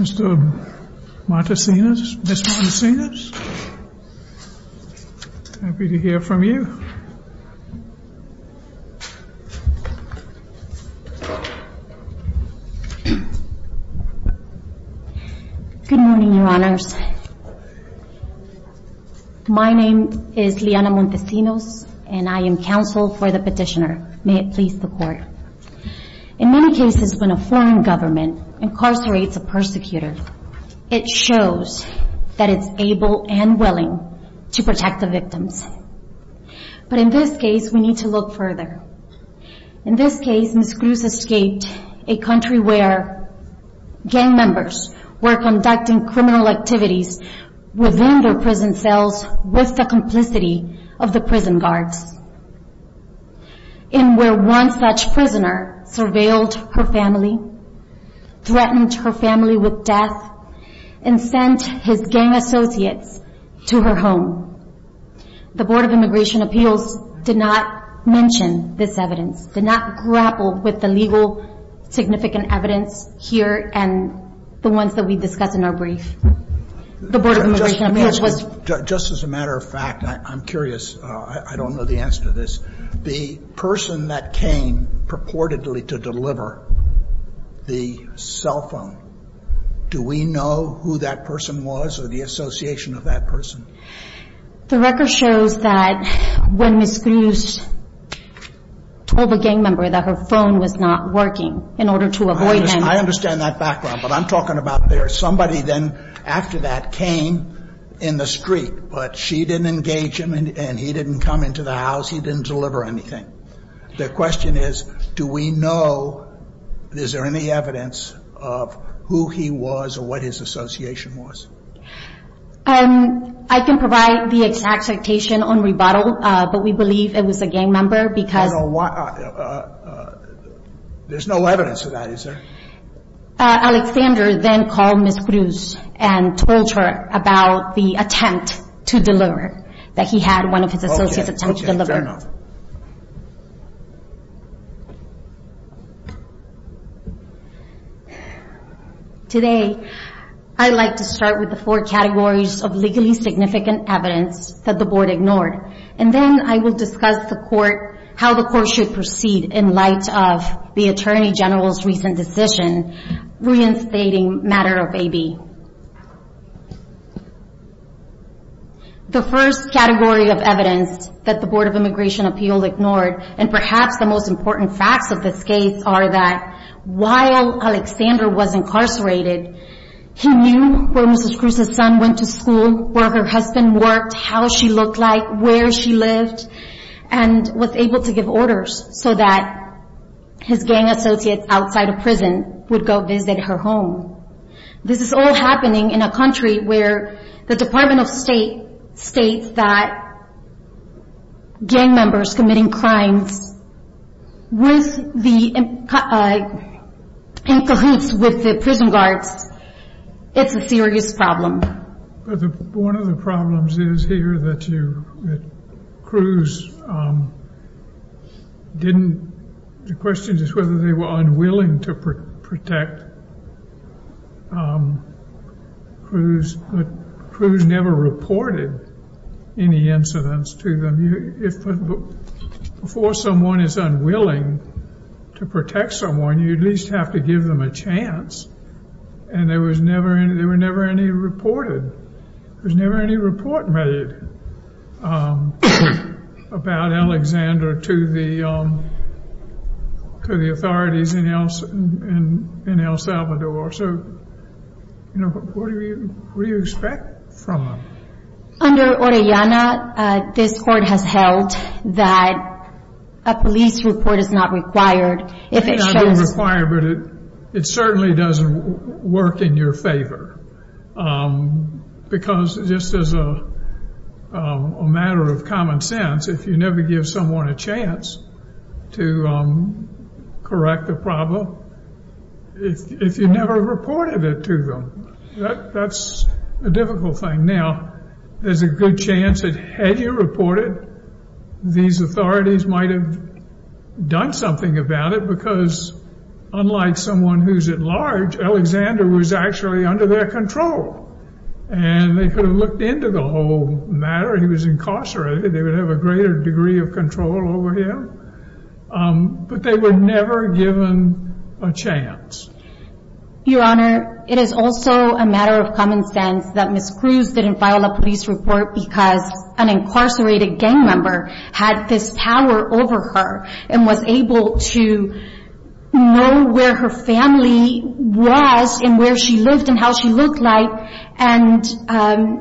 Mr. Montesinos, Ms. Montesinos, happy to hear from you. Good morning, your honors. My name is Liana Montesinos, and I am counsel for the petitioner. May it please the court. In many cases, when a foreign government incarcerates a persecutor, it shows that it's able and willing to protect the victims. But in this case, we need to look further. In this case, Ms. Cruz escaped a country where gang members were conducting criminal activities within their prison cells with the complicity of the prison guards, and where one such prisoner surveilled her family, threatened her family with death, and sent his gang associates to her home. The Board of Immigration Appeals did not mention this evidence, did not grapple with the legal significant evidence here, and the ones that we discuss in our brief. The Board of Immigration Appeals was... Just as a matter of fact, I'm curious, I don't know the answer to this, the person that came purportedly to deliver the cell phone, do we know who that person was, or the association of that person? The record shows that when Ms. Cruz told a gang member that her phone was not working in order to avoid... I understand that background, but I'm talking about there's somebody then after that came in the street, but she didn't engage him, and he didn't come into the house, he didn't deliver anything. The question is, do we know, is there any evidence of who he was or what his association was? I can provide the exact citation on rebuttal, but we believe it was a gang member because... I don't know why... There's no evidence of that, is there? Alexander then called Ms. Cruz and told her about the attempt to deliver, that he had one of his associates attempt to deliver. Okay, okay, fair enough. Today, I'd like to start with the four categories of legally significant evidence that the board ignored, and then I will discuss how the court should proceed in light of the Attorney General's recent decision reinstating matter of AB. The first category of evidence that the Board of Immigration Appeal ignored, and perhaps the most important facts of this case are that while Alexander was incarcerated, he knew where Ms. Cruz's son went to school, where her husband worked, how she looked like, where she lived, and was able to give orders so that his gang associates outside of prison would go visit her home. This is all happening in a country where the Department of State states that gang members committing crimes in cahoots with the prison guards, it's a serious problem. One of the problems is here that Cruz didn't, the question is whether they were unwilling to protect Cruz, but Cruz never reported any incidents to them. Before someone is unwilling to protect someone, you at least have to give them a chance, and there was never, there were never any reported, there was never any report made about Alexander to the authorities in El Salvador, so, you know, what do you expect from them? Under Orellana, this court has held that a police report is not required if it shows I don't require it, but it certainly doesn't work in your favor, because just as a matter of common sense, if you never give someone a chance to correct a problem, if you never reported it to them, that's a difficult thing. Now, there's a good chance that had you reported, these authorities might have done something about it, because unlike someone who's at large, Alexander was actually under their control, and they could have looked into the whole matter, he was incarcerated, they would have a greater degree of control over him, but they were never given a chance. Your Honor, it is also a matter of common sense that Ms. Cruz didn't file a police report because an incarcerated gang member had this power over her and was able to know where her family was and where she lived and how she looked like, and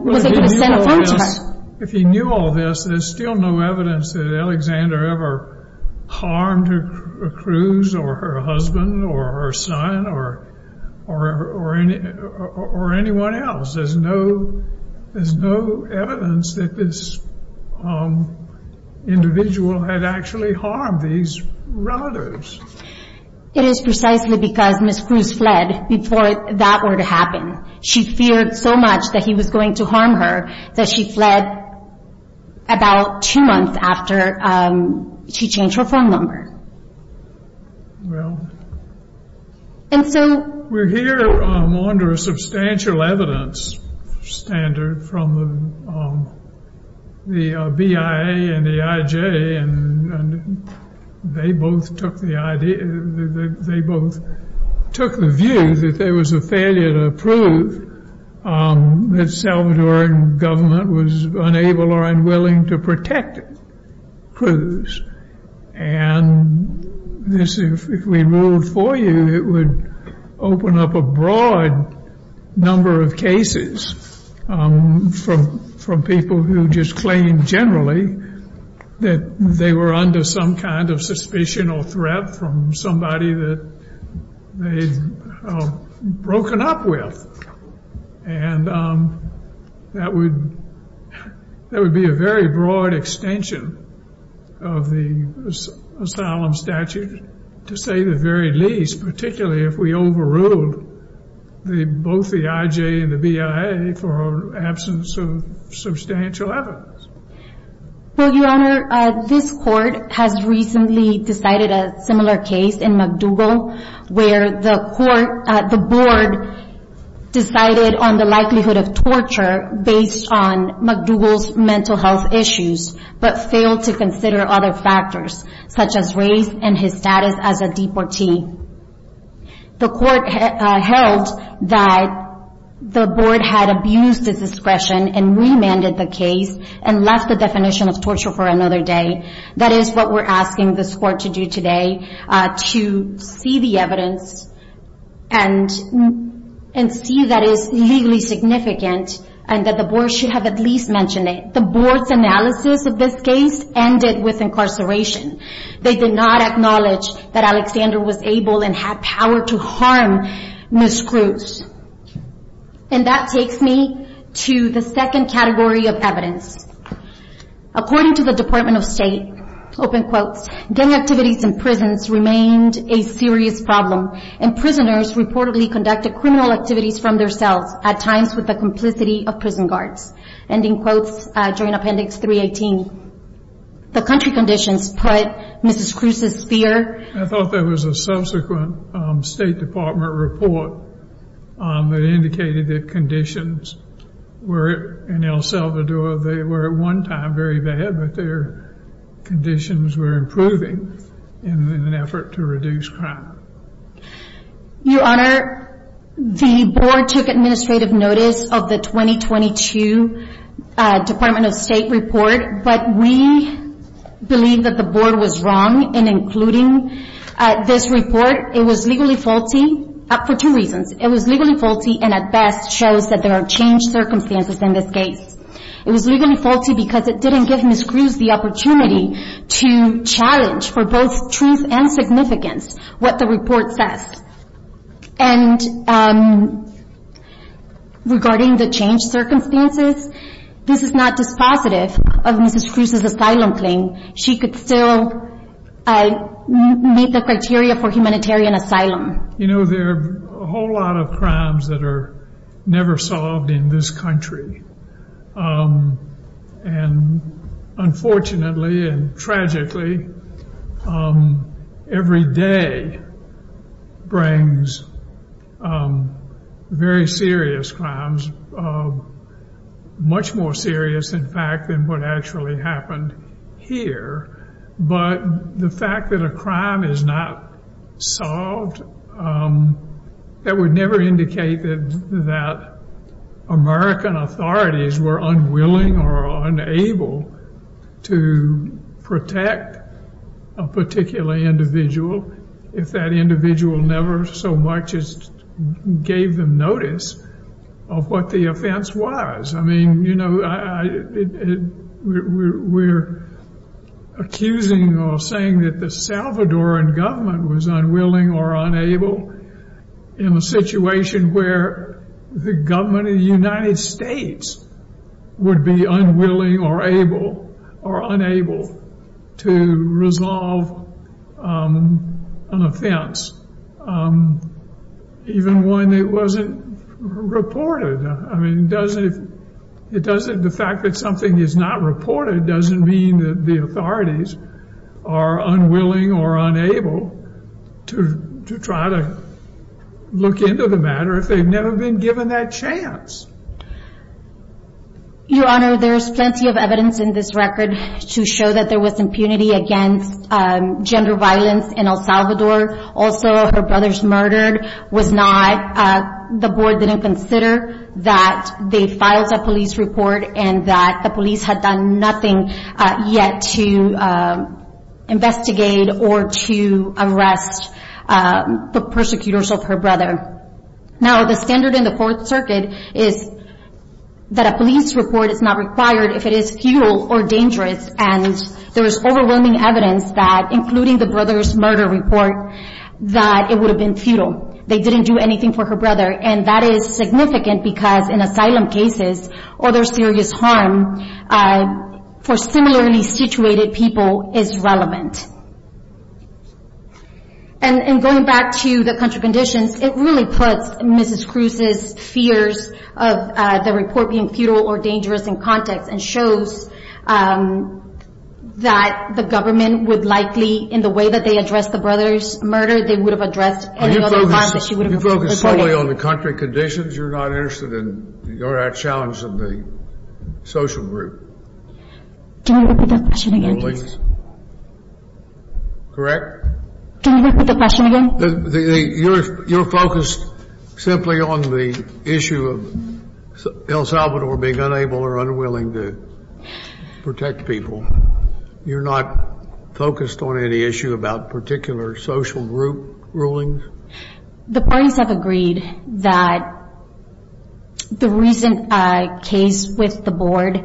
was able to send a phone check. If he knew all this, there's still no evidence that Alexander ever harmed Cruz or her husband or her son or anyone else. There's no evidence that this individual had actually harmed these relatives. It is precisely because Ms. Cruz fled before that were to happen. She feared so much that he was going to harm her that she fled about two months after she changed her phone number. Well, we're here under a substantial evidence standard from the BIA and AIJ, and they both took the view that there was a failure to prove that the Salvadoran government was unable or unwilling to protect Cruz, and if we ruled for you, it would open up a broad number of cases from people who just claim generally that they were under some kind of suspicion or threat from somebody that they've broken up with. And that would be a very broad extension of the asylum statute, to say the very least, particularly if we overruled both the AIJ and the BIA for absence of substantial evidence. Well, Your Honor, this court has recently decided a similar case in MacDougall, where the board decided on the likelihood of torture based on MacDougall's mental health issues, but failed to consider other factors, such as race and his status as a deportee. The court held that the board had abused its discretion and remanded the case and left the definition of torture for another day. That is what we're asking this court to do today, to see the evidence and see that it is legally significant and that the board should have at least mentioned it. The board's analysis of this case ended with incarceration. They did not acknowledge that Alexander was able and had power to harm Ms. Cruz. And that takes me to the second category of evidence. According to the Department of State, open quotes, gang activities in prisons remained a serious problem, and prisoners reportedly conducted criminal activities from their cells, at times with the complicity of prison guards, ending quotes during appendix 318. The country conditions put Mrs. Cruz's fear. I thought there was a subsequent State Department report that indicated that conditions were in El Salvador. They were at one time very bad, but their conditions were improving in an effort to reduce crime. Your Honor, the board took administrative notice of the 2022 Department of State report, but we believe that the board was wrong in including this report. It was legally faulty for two reasons. It was legally faulty and at best shows that there are changed circumstances in this case. It was legally faulty because it didn't give Ms. Cruz the opportunity to challenge for both truth and significance what the report says. And regarding the changed circumstances, this is not dispositive of Mrs. Cruz's asylum claim. She could still meet the criteria for humanitarian asylum. You know, there are a whole lot of crimes that are never solved in this country. And unfortunately and tragically, every day brings very serious crimes, much more serious, in fact, than what actually happened here. But the fact that a crime is not solved, that would never indicate that American authorities were unwilling or unable to protect a particular individual if that individual never so much as gave them notice of what the offense was. I mean, you know, we're accusing or saying that the Salvadoran government was unwilling or unable in a situation where the government of the United States would be unwilling or able or unable to resolve an offense, even when it wasn't reported. I mean, the fact that something is not reported doesn't mean that the authorities are unwilling or unable to try to look into the matter if they've never been given that chance. Your Honor, there's plenty of evidence in this record to show that there was impunity against gender violence in El Salvador. Also, her brother's murder was not... The board didn't consider that they filed a police report and that the police had done nothing yet to investigate or to arrest the persecutors of her brother. Now, the standard in the Fourth Circuit is that a police report is not required if it is futile or dangerous, and there is overwhelming evidence that, including the brother's murder report, that it would have been futile. They didn't do anything for her brother, and that is significant because in asylum cases or there's serious harm for similarly situated people is relevant. And going back to the country conditions, it really puts Mrs. Cruz's fears of the report being futile or dangerous in context and shows that the government would likely, in the way that they addressed the brother's murder, they would have addressed any other harm that she would have reported. You focus solely on the country conditions? You're not interested in... You're not challenged in the social group? Do you want me to repeat that question again, please? Correct? Do you want me to repeat that question again? You're focused simply on the issue of El Salvador being unable or unwilling to protect people. You're not focused on any issue about particular social group rulings? The parties have agreed that the recent case with the board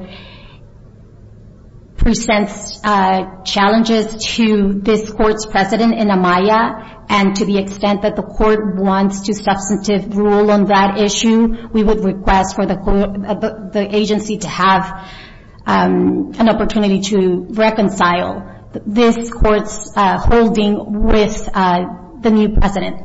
presents challenges to this court's precedent in AMAYA, and to the extent that the court wants to substantive rule on that issue, we would request for the agency to have an opportunity to reconcile this court's holding with the new precedent.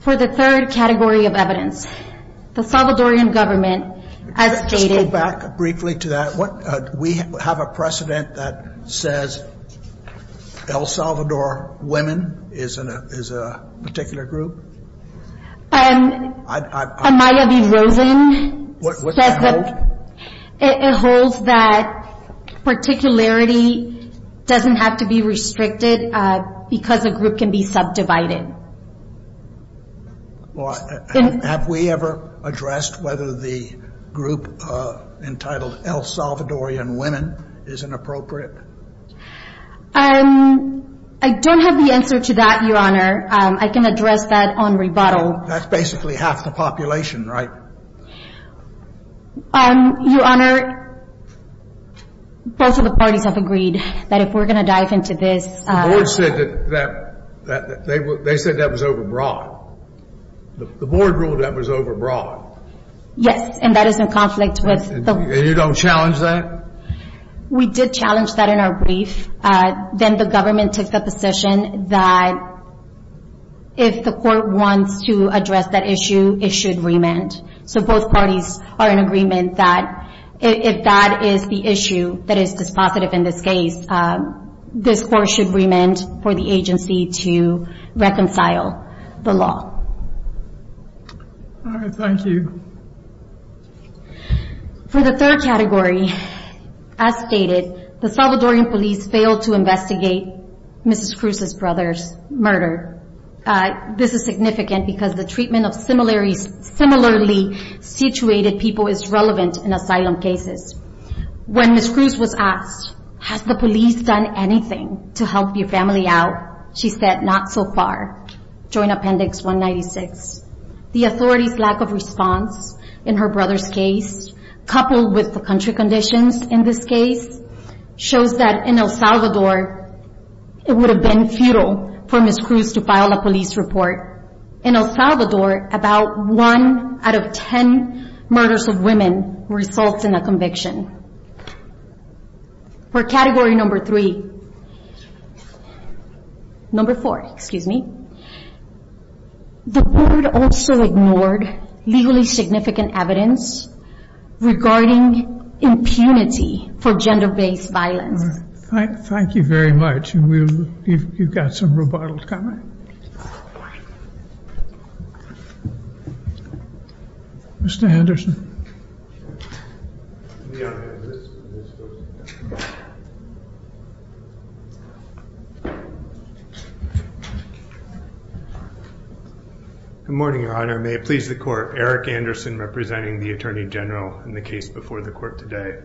For the third category of evidence, the Salvadorian government as stated... Going back briefly to that, we have a precedent that says El Salvador women is a particular group? AMAYA v. Rosen says that it holds that particularity doesn't have to be restricted because a group can be subdivided. Have we ever addressed whether the group entitled El Salvadorian women is inappropriate? I don't have the answer to that, Your Honor. I can address that on rebuttal. That's basically half the population, right? Your Honor, both of the parties have agreed that if we're going to dive into this... The board said that was overbroad. The board ruled that was overbroad. Yes, and that is in conflict with... And you don't challenge that? We did challenge that in our brief. Then the government took the position that if the court wants to address that issue, it should remand. So both parties are in agreement that if that is the issue that is dispositive in this case, this court should remand for the agency to reconcile the law. All right, thank you. For the third category, as stated, the Salvadorian police failed to investigate Mrs. Cruz's brother's murder. This is significant because the treatment of similarly situated people is relevant in asylum cases. When Mrs. Cruz was asked, has the police done anything to help your family out? She said, not so far. Join Appendix 196. The authority's lack of response in her brother's case, coupled with the country conditions in this case, shows that in El Salvador, it would have been futile for Mrs. Cruz to file a police report. In El Salvador, about one out of ten murders of women results in a conviction. For category number three. Number four, excuse me. The court also ignored legally significant evidence regarding impunity for gender-based violence. Thank you very much. You've got some rebuttals coming. Mr. Henderson. Good morning, Your Honor. May it please the court. Eric Anderson representing the Attorney General in the case before the court today.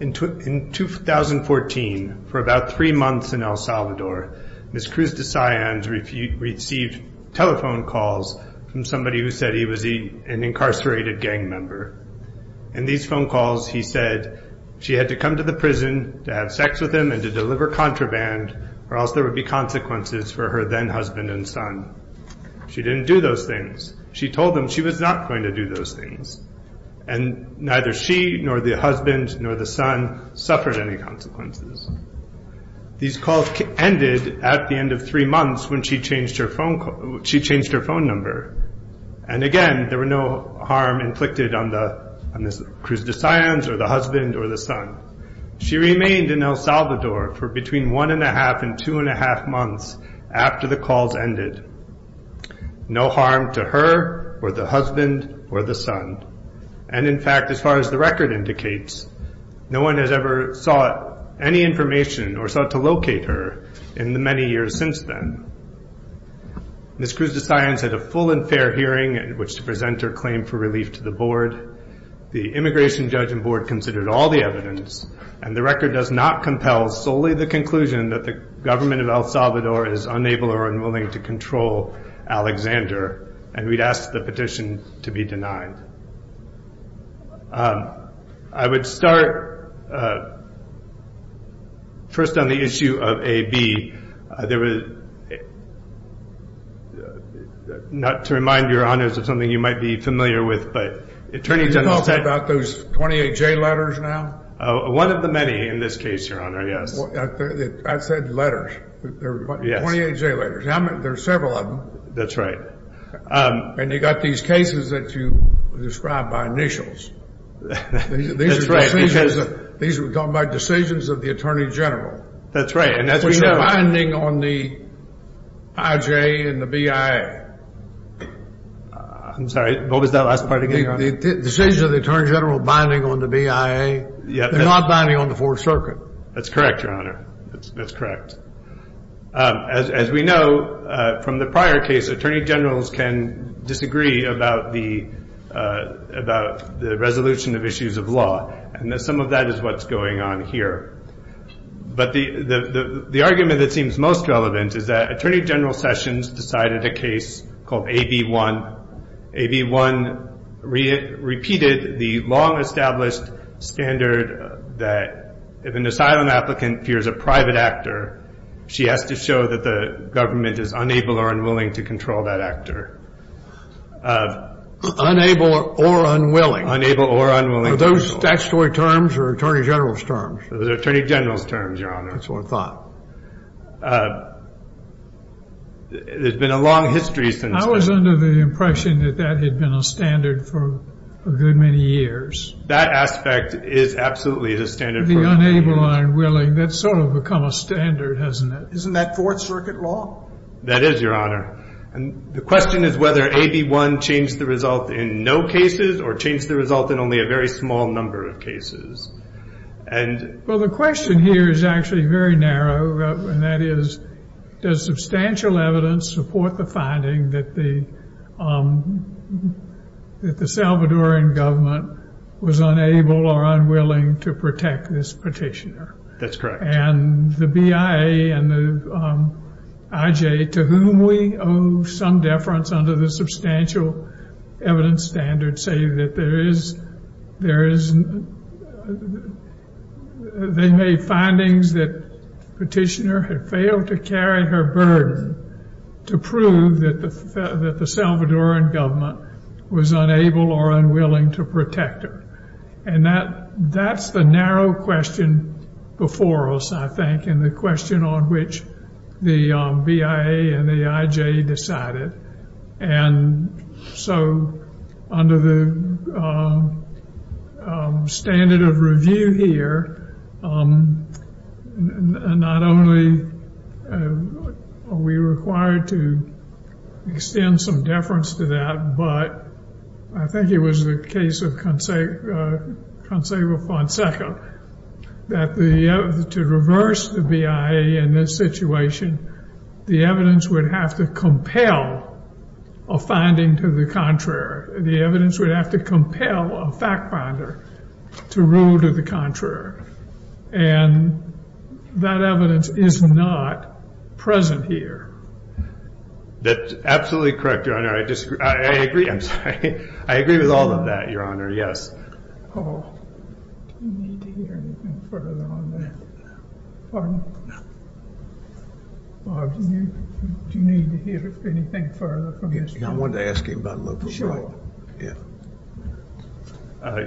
In 2014, for about three months in El Salvador, Ms. Cruz de Sion received telephone calls from somebody who said he was an incarcerated gang member. In these phone calls, he said she had to come to the prison to have sex with him and to deliver contraband, or else there would be consequences for her then-husband and son. She didn't do those things. She told them she was not going to do those things. And neither she, nor the husband, nor the son suffered any consequences. These calls ended at the end of three months when she changed her phone number. And again, there were no harm inflicted on Ms. Cruz de Sion, or the husband, or the son. She remained in El Salvador for between one and a half and two and a half months after the calls ended. No harm to her, or the husband, or the son. And, in fact, as far as the record indicates, no one has ever sought any information or sought to locate her in the many years since then. Ms. Cruz de Sion said a full and fair hearing in which to present her claim for relief to the board. The immigration judge and board considered all the evidence, and the record does not compel solely the conclusion that the government of El Salvador is unable or unwilling to control Alexander. And we'd ask the petition to be denied. I would start first on the issue of AB. Not to remind Your Honors of something you might be familiar with, but attorneys have said- Can you talk about those 28J letters now? One of the many in this case, Your Honor, yes. I said letters. 28J letters. There are several of them. That's right. And you've got these cases that you describe by initials. That's right. These are decisions of the Attorney General. That's right. Which are binding on the IJ and the BIA. I'm sorry. What was that last part again? Decisions of the Attorney General binding on the BIA. They're not binding on the Fourth Circuit. That's correct, Your Honor. That's correct. As we know, from the prior case, Attorney Generals can disagree about the resolution of issues of law. And some of that is what's going on here. But the argument that seems most relevant is that Attorney General Sessions decided a case called AB1. AB1 repeated the long-established standard that if an asylum applicant fears a private actor, she has to show that the government is unable or unwilling to control that actor. Unable or unwilling. Unable or unwilling. Are those statutory terms or Attorney General's terms? Those are Attorney General's terms, Your Honor. That's what I thought. There's been a long history since then. I was under the impression that that had been a standard for a good many years. That aspect is absolutely the standard for many years. The unable or unwilling, that's sort of become a standard, hasn't it? Isn't that Fourth Circuit law? That is, Your Honor. And the question is whether AB1 changed the result in no cases or changed the result in only a very small number of cases. Well, the question here is actually very narrow, and that is does substantial evidence support the finding that the Salvadoran government was unable or unwilling to protect this petitioner? That's correct. And the BIA and the IJ, to whom we owe some deference under the substantial evidence standard, say that they made findings that the petitioner had failed to carry her burden to prove that the Salvadoran government was unable or unwilling to protect her. And that's the narrow question before us, I think, and the question on which the BIA and the IJ decided. And so under the standard of review here, not only are we required to extend some deference to that, but I think it was the case of Consejo Fonseca that to reverse the BIA in this situation, the evidence would have to compel a finding to the contrary. The evidence would have to compel a fact finder to rule to the contrary. And that evidence is not present here. That's absolutely correct, Your Honor. I agree with all of that, Your Honor, yes. Paul, do you need to hear anything further on that? Pardon? No. Bob, do you need to hear anything further from this? I wanted to ask you about Loper Bright. Sure. Yes.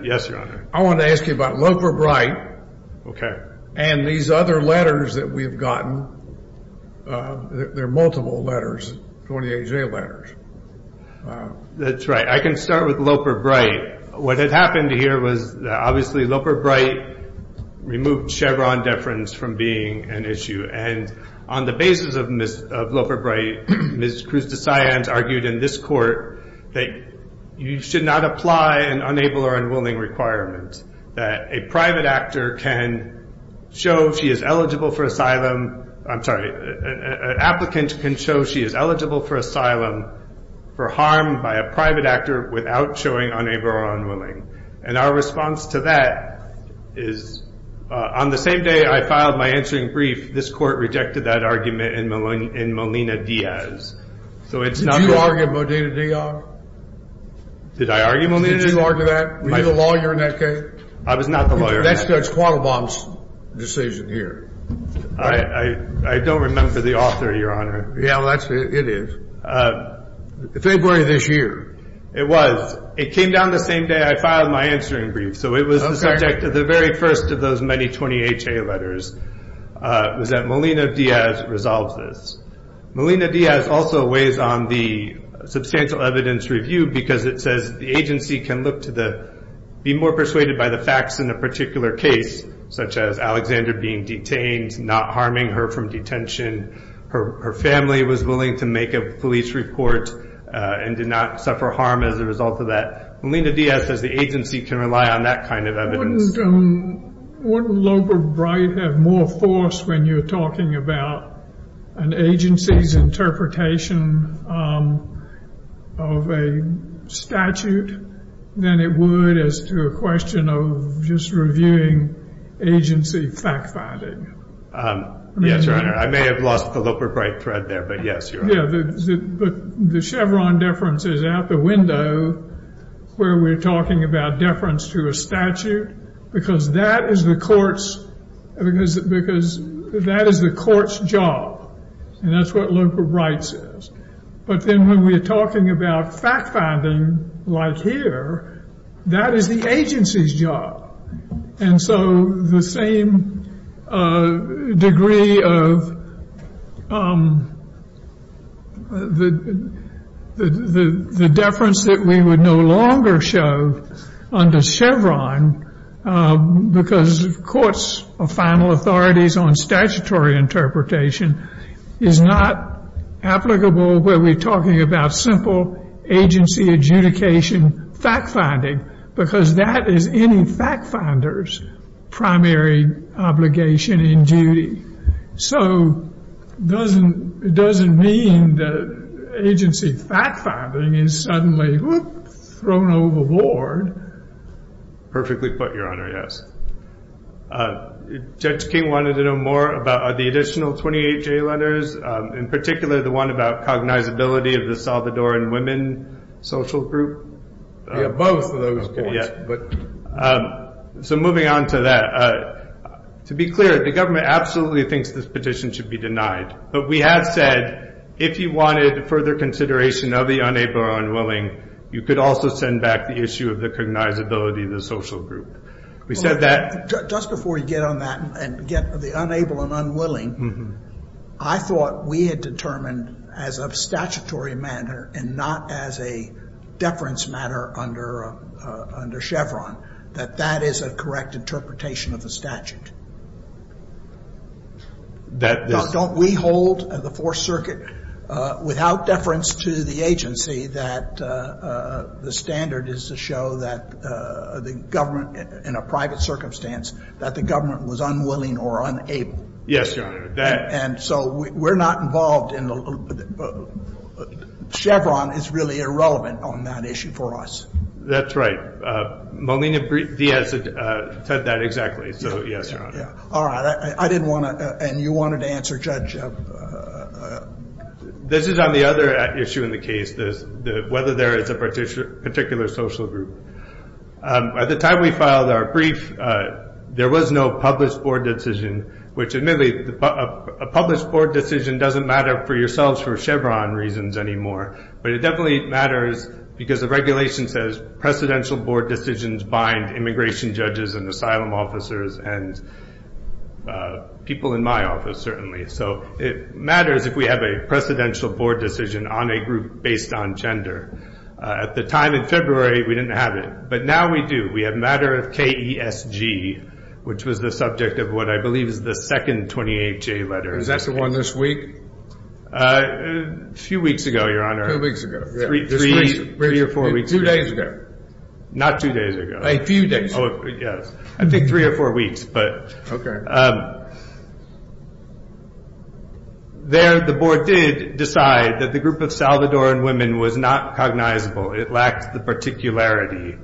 Yes, Your Honor. I wanted to ask you about Loper Bright. Okay. And these other letters that we've gotten, they're multiple letters, 28-J letters. That's right. I can start with Loper Bright. What had happened here was obviously Loper Bright removed Chevron deference from being an issue. And on the basis of Loper Bright, Ms. Cruz-DeSant argued in this court that you should not apply an unable or unwilling requirement, that a private actor can show she is eligible for asylum. And our response to that is, on the same day I filed my answering brief, this court rejected that argument in Molina-Diaz. Did you argue in Molina-Diaz? Did I argue Molina-Diaz? Did you argue that? Were you the lawyer in that case? I was not the lawyer in that case. That's Judge Quattlebaum's decision here. I don't remember the author, Your Honor. Yeah, well, it is. February of this year. It was. It came down the same day I filed my answering brief, so it was the subject of the very first of those many 28-J letters, was that Molina-Diaz resolves this. Molina-Diaz also weighs on the substantial evidence review because it says the agency can look to the, be more persuaded by the facts in a particular case, such as Alexander being detained, not harming her from detention, her family was willing to make a police report and did not suffer harm as a result of that. Molina-Diaz says the agency can rely on that kind of evidence. Wouldn't Loeb or Bright have more force when you're talking about an agency's interpretation of a statute than it would as to a question of just reviewing agency fact-finding? Yes, Your Honor. I may have lost the Loeb or Bright thread there, but yes, Your Honor. Yeah, but the Chevron deference is out the window where we're talking about deference to a statute because that is the court's job, and that's what Loeb or Bright says. But then when we're talking about fact-finding like here, that is the agency's job. And so the same degree of the deference that we would no longer show under Chevron because courts are final authorities on statutory interpretation is not applicable where we're talking about simple agency adjudication fact-finding because that is any fact-finder's primary obligation in duty. So it doesn't mean that agency fact-finding is suddenly thrown overboard. Perfectly put, Your Honor, yes. Judge King wanted to know more about the additional 28 J letters, in particular the one about cognizability of the Salvadoran women social group. Yeah, both of those points. So moving on to that, to be clear, the government absolutely thinks this petition should be denied. But we have said if you wanted further consideration of the unable or unwilling, you could also send back the issue of the cognizability of the social group. We said that. Just before you get on that and get the unable and unwilling, I thought we had determined as of statutory manner and not as a deference matter under Chevron that that is a correct interpretation of the statute. Don't we hold at the Fourth Circuit without deference to the agency that the standard is to show that the government in a private circumstance, that the government was unwilling or unable? Yes, Your Honor. And so we're not involved in the Chevron is really irrelevant on that issue for us. That's right. Molina Diaz said that exactly, so yes, Your Honor. All right. I didn't want to, and you wanted to answer, Judge. This is on the other issue in the case, whether there is a particular social group. At the time we filed our brief, there was no published board decision, which admittedly a published board decision doesn't matter for yourselves for Chevron reasons anymore. But it definitely matters because the regulation says precedential board decisions bind immigration judges and asylum officers and people in my office certainly. So it matters if we have a precedential board decision on a group based on gender. At the time in February, we didn't have it. But now we do. We have matter of KESG, which was the subject of what I believe is the second 28-J letter. Is that the one this week? A few weeks ago, Your Honor. Two weeks ago. Three or four weeks ago. Two days ago. Not two days ago. A few days ago. Yes. I think three or four weeks. Okay. Thank you, Your Honor. There the board did decide that the group of Salvadoran women was not cognizable. It lacked the particularity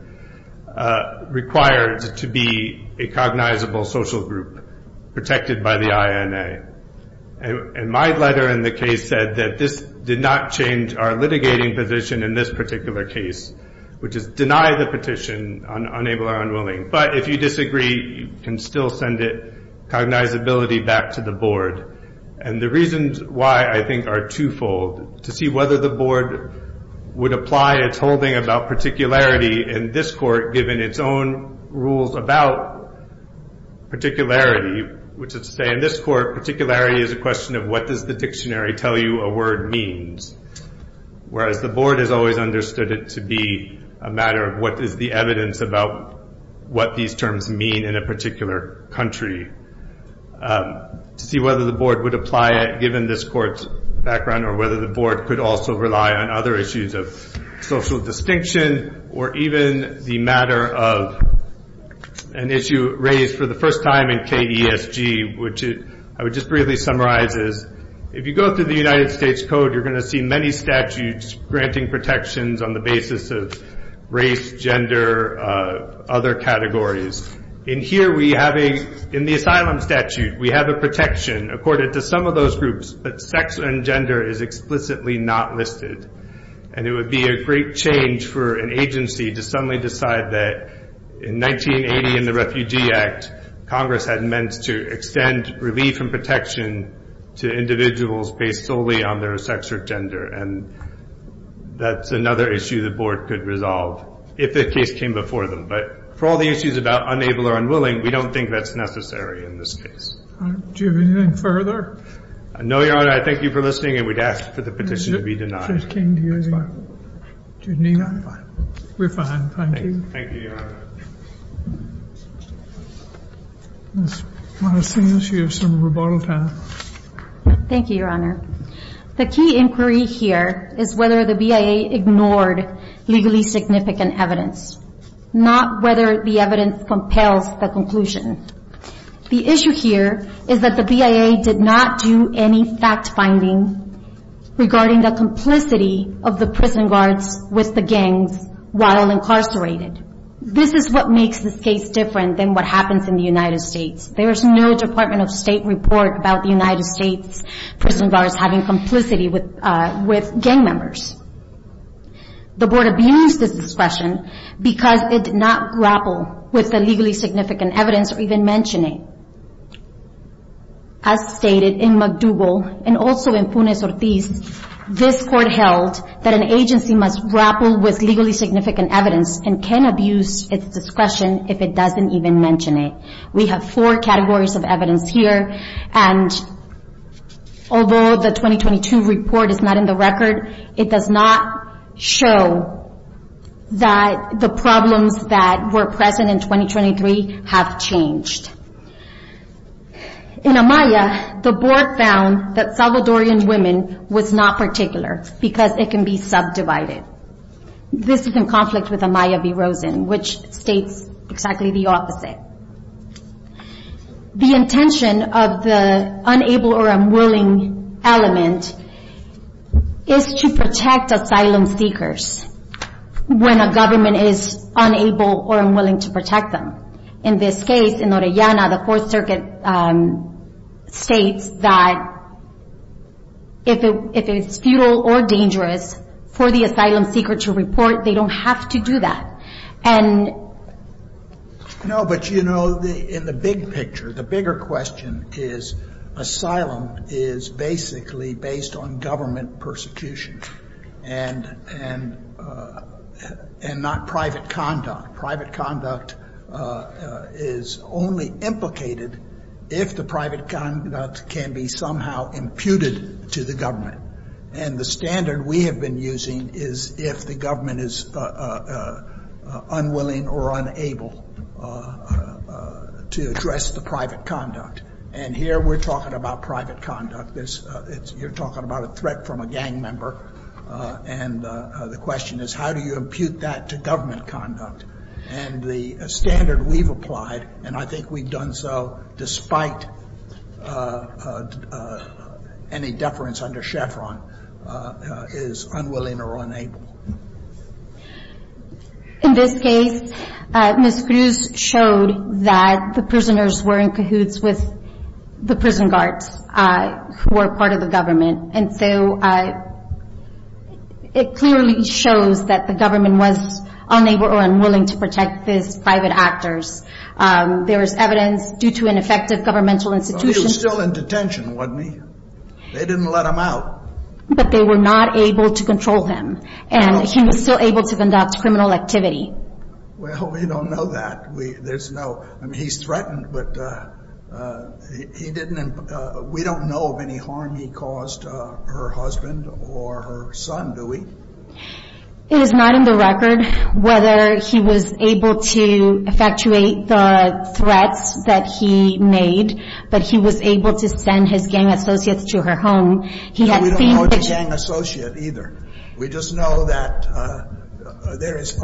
required to be a cognizable social group protected by the INA. And my letter in the case said that this did not change our litigating position in this particular case, which is deny the petition, unable or unwilling. But if you disagree, you can still send cognizability back to the board. And the reasons why I think are twofold. To see whether the board would apply its holding about particularity in this court, given its own rules about particularity, which is to say in this court, particularity is a question of what does the dictionary tell you a word means. Whereas the board has always understood it to be a matter of what is the evidence about what these terms mean in a particular country. To see whether the board would apply it given this court's background or whether the board could also rely on other issues of social distinction or even the matter of an issue raised for the first time in KESG, which I would just briefly summarize as if you go through the United States Code, you're going to see many statutes granting protections on the basis of race, gender, other categories. In here we have a, in the asylum statute, we have a protection according to some of those groups, but sex and gender is explicitly not listed. And it would be a great change for an agency to suddenly decide that in 1980 in the Refugee Act, Congress had meant to extend relief and protection to individuals based solely on their sex or gender. And that's another issue the board could resolve if the case came before them. But for all the issues about unable or unwilling, we don't think that's necessary in this case. Do you have anything further? No, Your Honor. I thank you for listening, and we'd ask for the petition to be denied. It just came to you as well. Do you need anything? We're fine. Thank you. Thank you, Your Honor. Ms. Maracena, you have some rebuttal time. Thank you, Your Honor. The key inquiry here is whether the BIA ignored legally significant evidence, not whether the evidence compels the conclusion. The issue here is that the BIA did not do any fact-finding regarding the complicity of the prison guards with the gangs while incarcerated. This is what makes this case different than what happens in the United States. There is no Department of State report about the United States prison guards having complicity with gang members. The board abused this discretion because it did not grapple with the legally significant evidence or even mention it. As stated in McDougall and also in Funes-Ortiz, this court held that an agency must grapple with legally significant evidence and can abuse its discretion if it doesn't even mention it. We have four categories of evidence here, and although the 2022 report is not in the record, it does not show that the problems that were present in 2023 have changed. In Amaya, the board found that Salvadorian women was not particular because it can be subdivided. This is in conflict with Amaya v. Rosen, which states exactly the opposite. The intention of the unable or unwilling element is to protect asylum seekers when a government is unable or unwilling to protect them. In this case, in Orellana, the Fourth Circuit states that if it's futile or dangerous for the asylum seeker to report, they don't have to do that. No, but you know, in the big picture, the bigger question is, asylum is basically based on government persecution and not private conduct. Private conduct is only implicated if the private conduct can be somehow imputed to the government. And the standard we have been using is if the government is unwilling or unable to address the private conduct. And here we're talking about private conduct. You're talking about a threat from a gang member. And the question is, how do you impute that to government conduct? And the standard we've applied, and I think we've done so despite any deference under Chevron, is unwilling or unable. In this case, Ms. Cruz showed that the prisoners were in cahoots with the prison guards who were part of the government. And so it clearly shows that the government was unable or unwilling to protect these private actors. There is evidence due to an effective governmental institution. But he was still in detention, wasn't he? They didn't let him out. But they were not able to control him. And he was still able to conduct criminal activity. Well, we don't know that. I mean, he's threatened, but we don't know of any harm he caused her husband or her son, do we? It is not in the record whether he was able to effectuate the threats that he made, but he was able to send his gang associates to her home. He had seen pictures. No, we don't know of a gang associate either. We just know that there is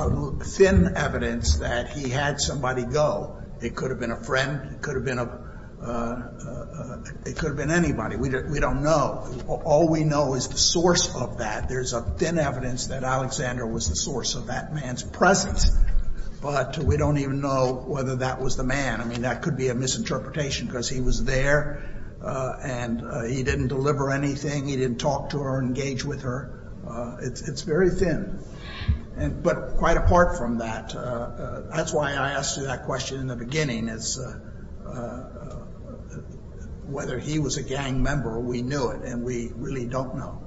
thin evidence that he had somebody go. It could have been a friend. It could have been anybody. We don't know. All we know is the source of that. There's a thin evidence that Alexander was the source of that man's presence. But we don't even know whether that was the man. I mean, that could be a misinterpretation because he was there and he didn't deliver anything. He didn't talk to her or engage with her. It's very thin. But quite apart from that, that's why I asked you that question in the beginning, is whether he was a gang member. We knew it, and we really don't know.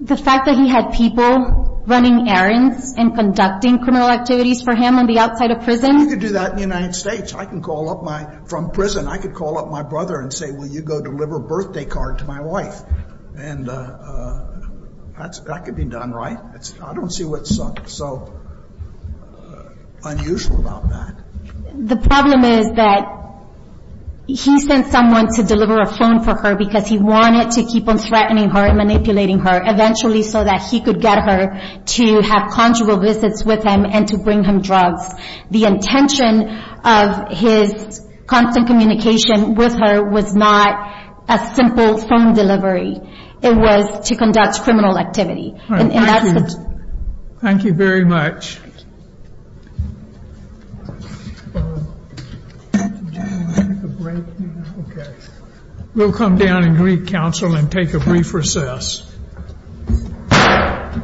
The fact that he had people running errands and conducting criminal activities for him on the outside of prison? You could do that in the United States. From prison, I could call up my brother and say, will you go deliver a birthday card to my wife? And that could be done, right? I don't see what's so unusual about that. The problem is that he sent someone to deliver a phone for her because he wanted to keep on threatening her and manipulating her, eventually so that he could get her to have conjugal visits with him and to bring him drugs. The intention of his constant communication with her was not a simple phone delivery. It was to conduct criminal activity. Thank you very much. Thank you. We'll come down and greet counsel and take a brief recess.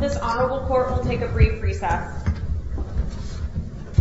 This honorable court will take a brief recess.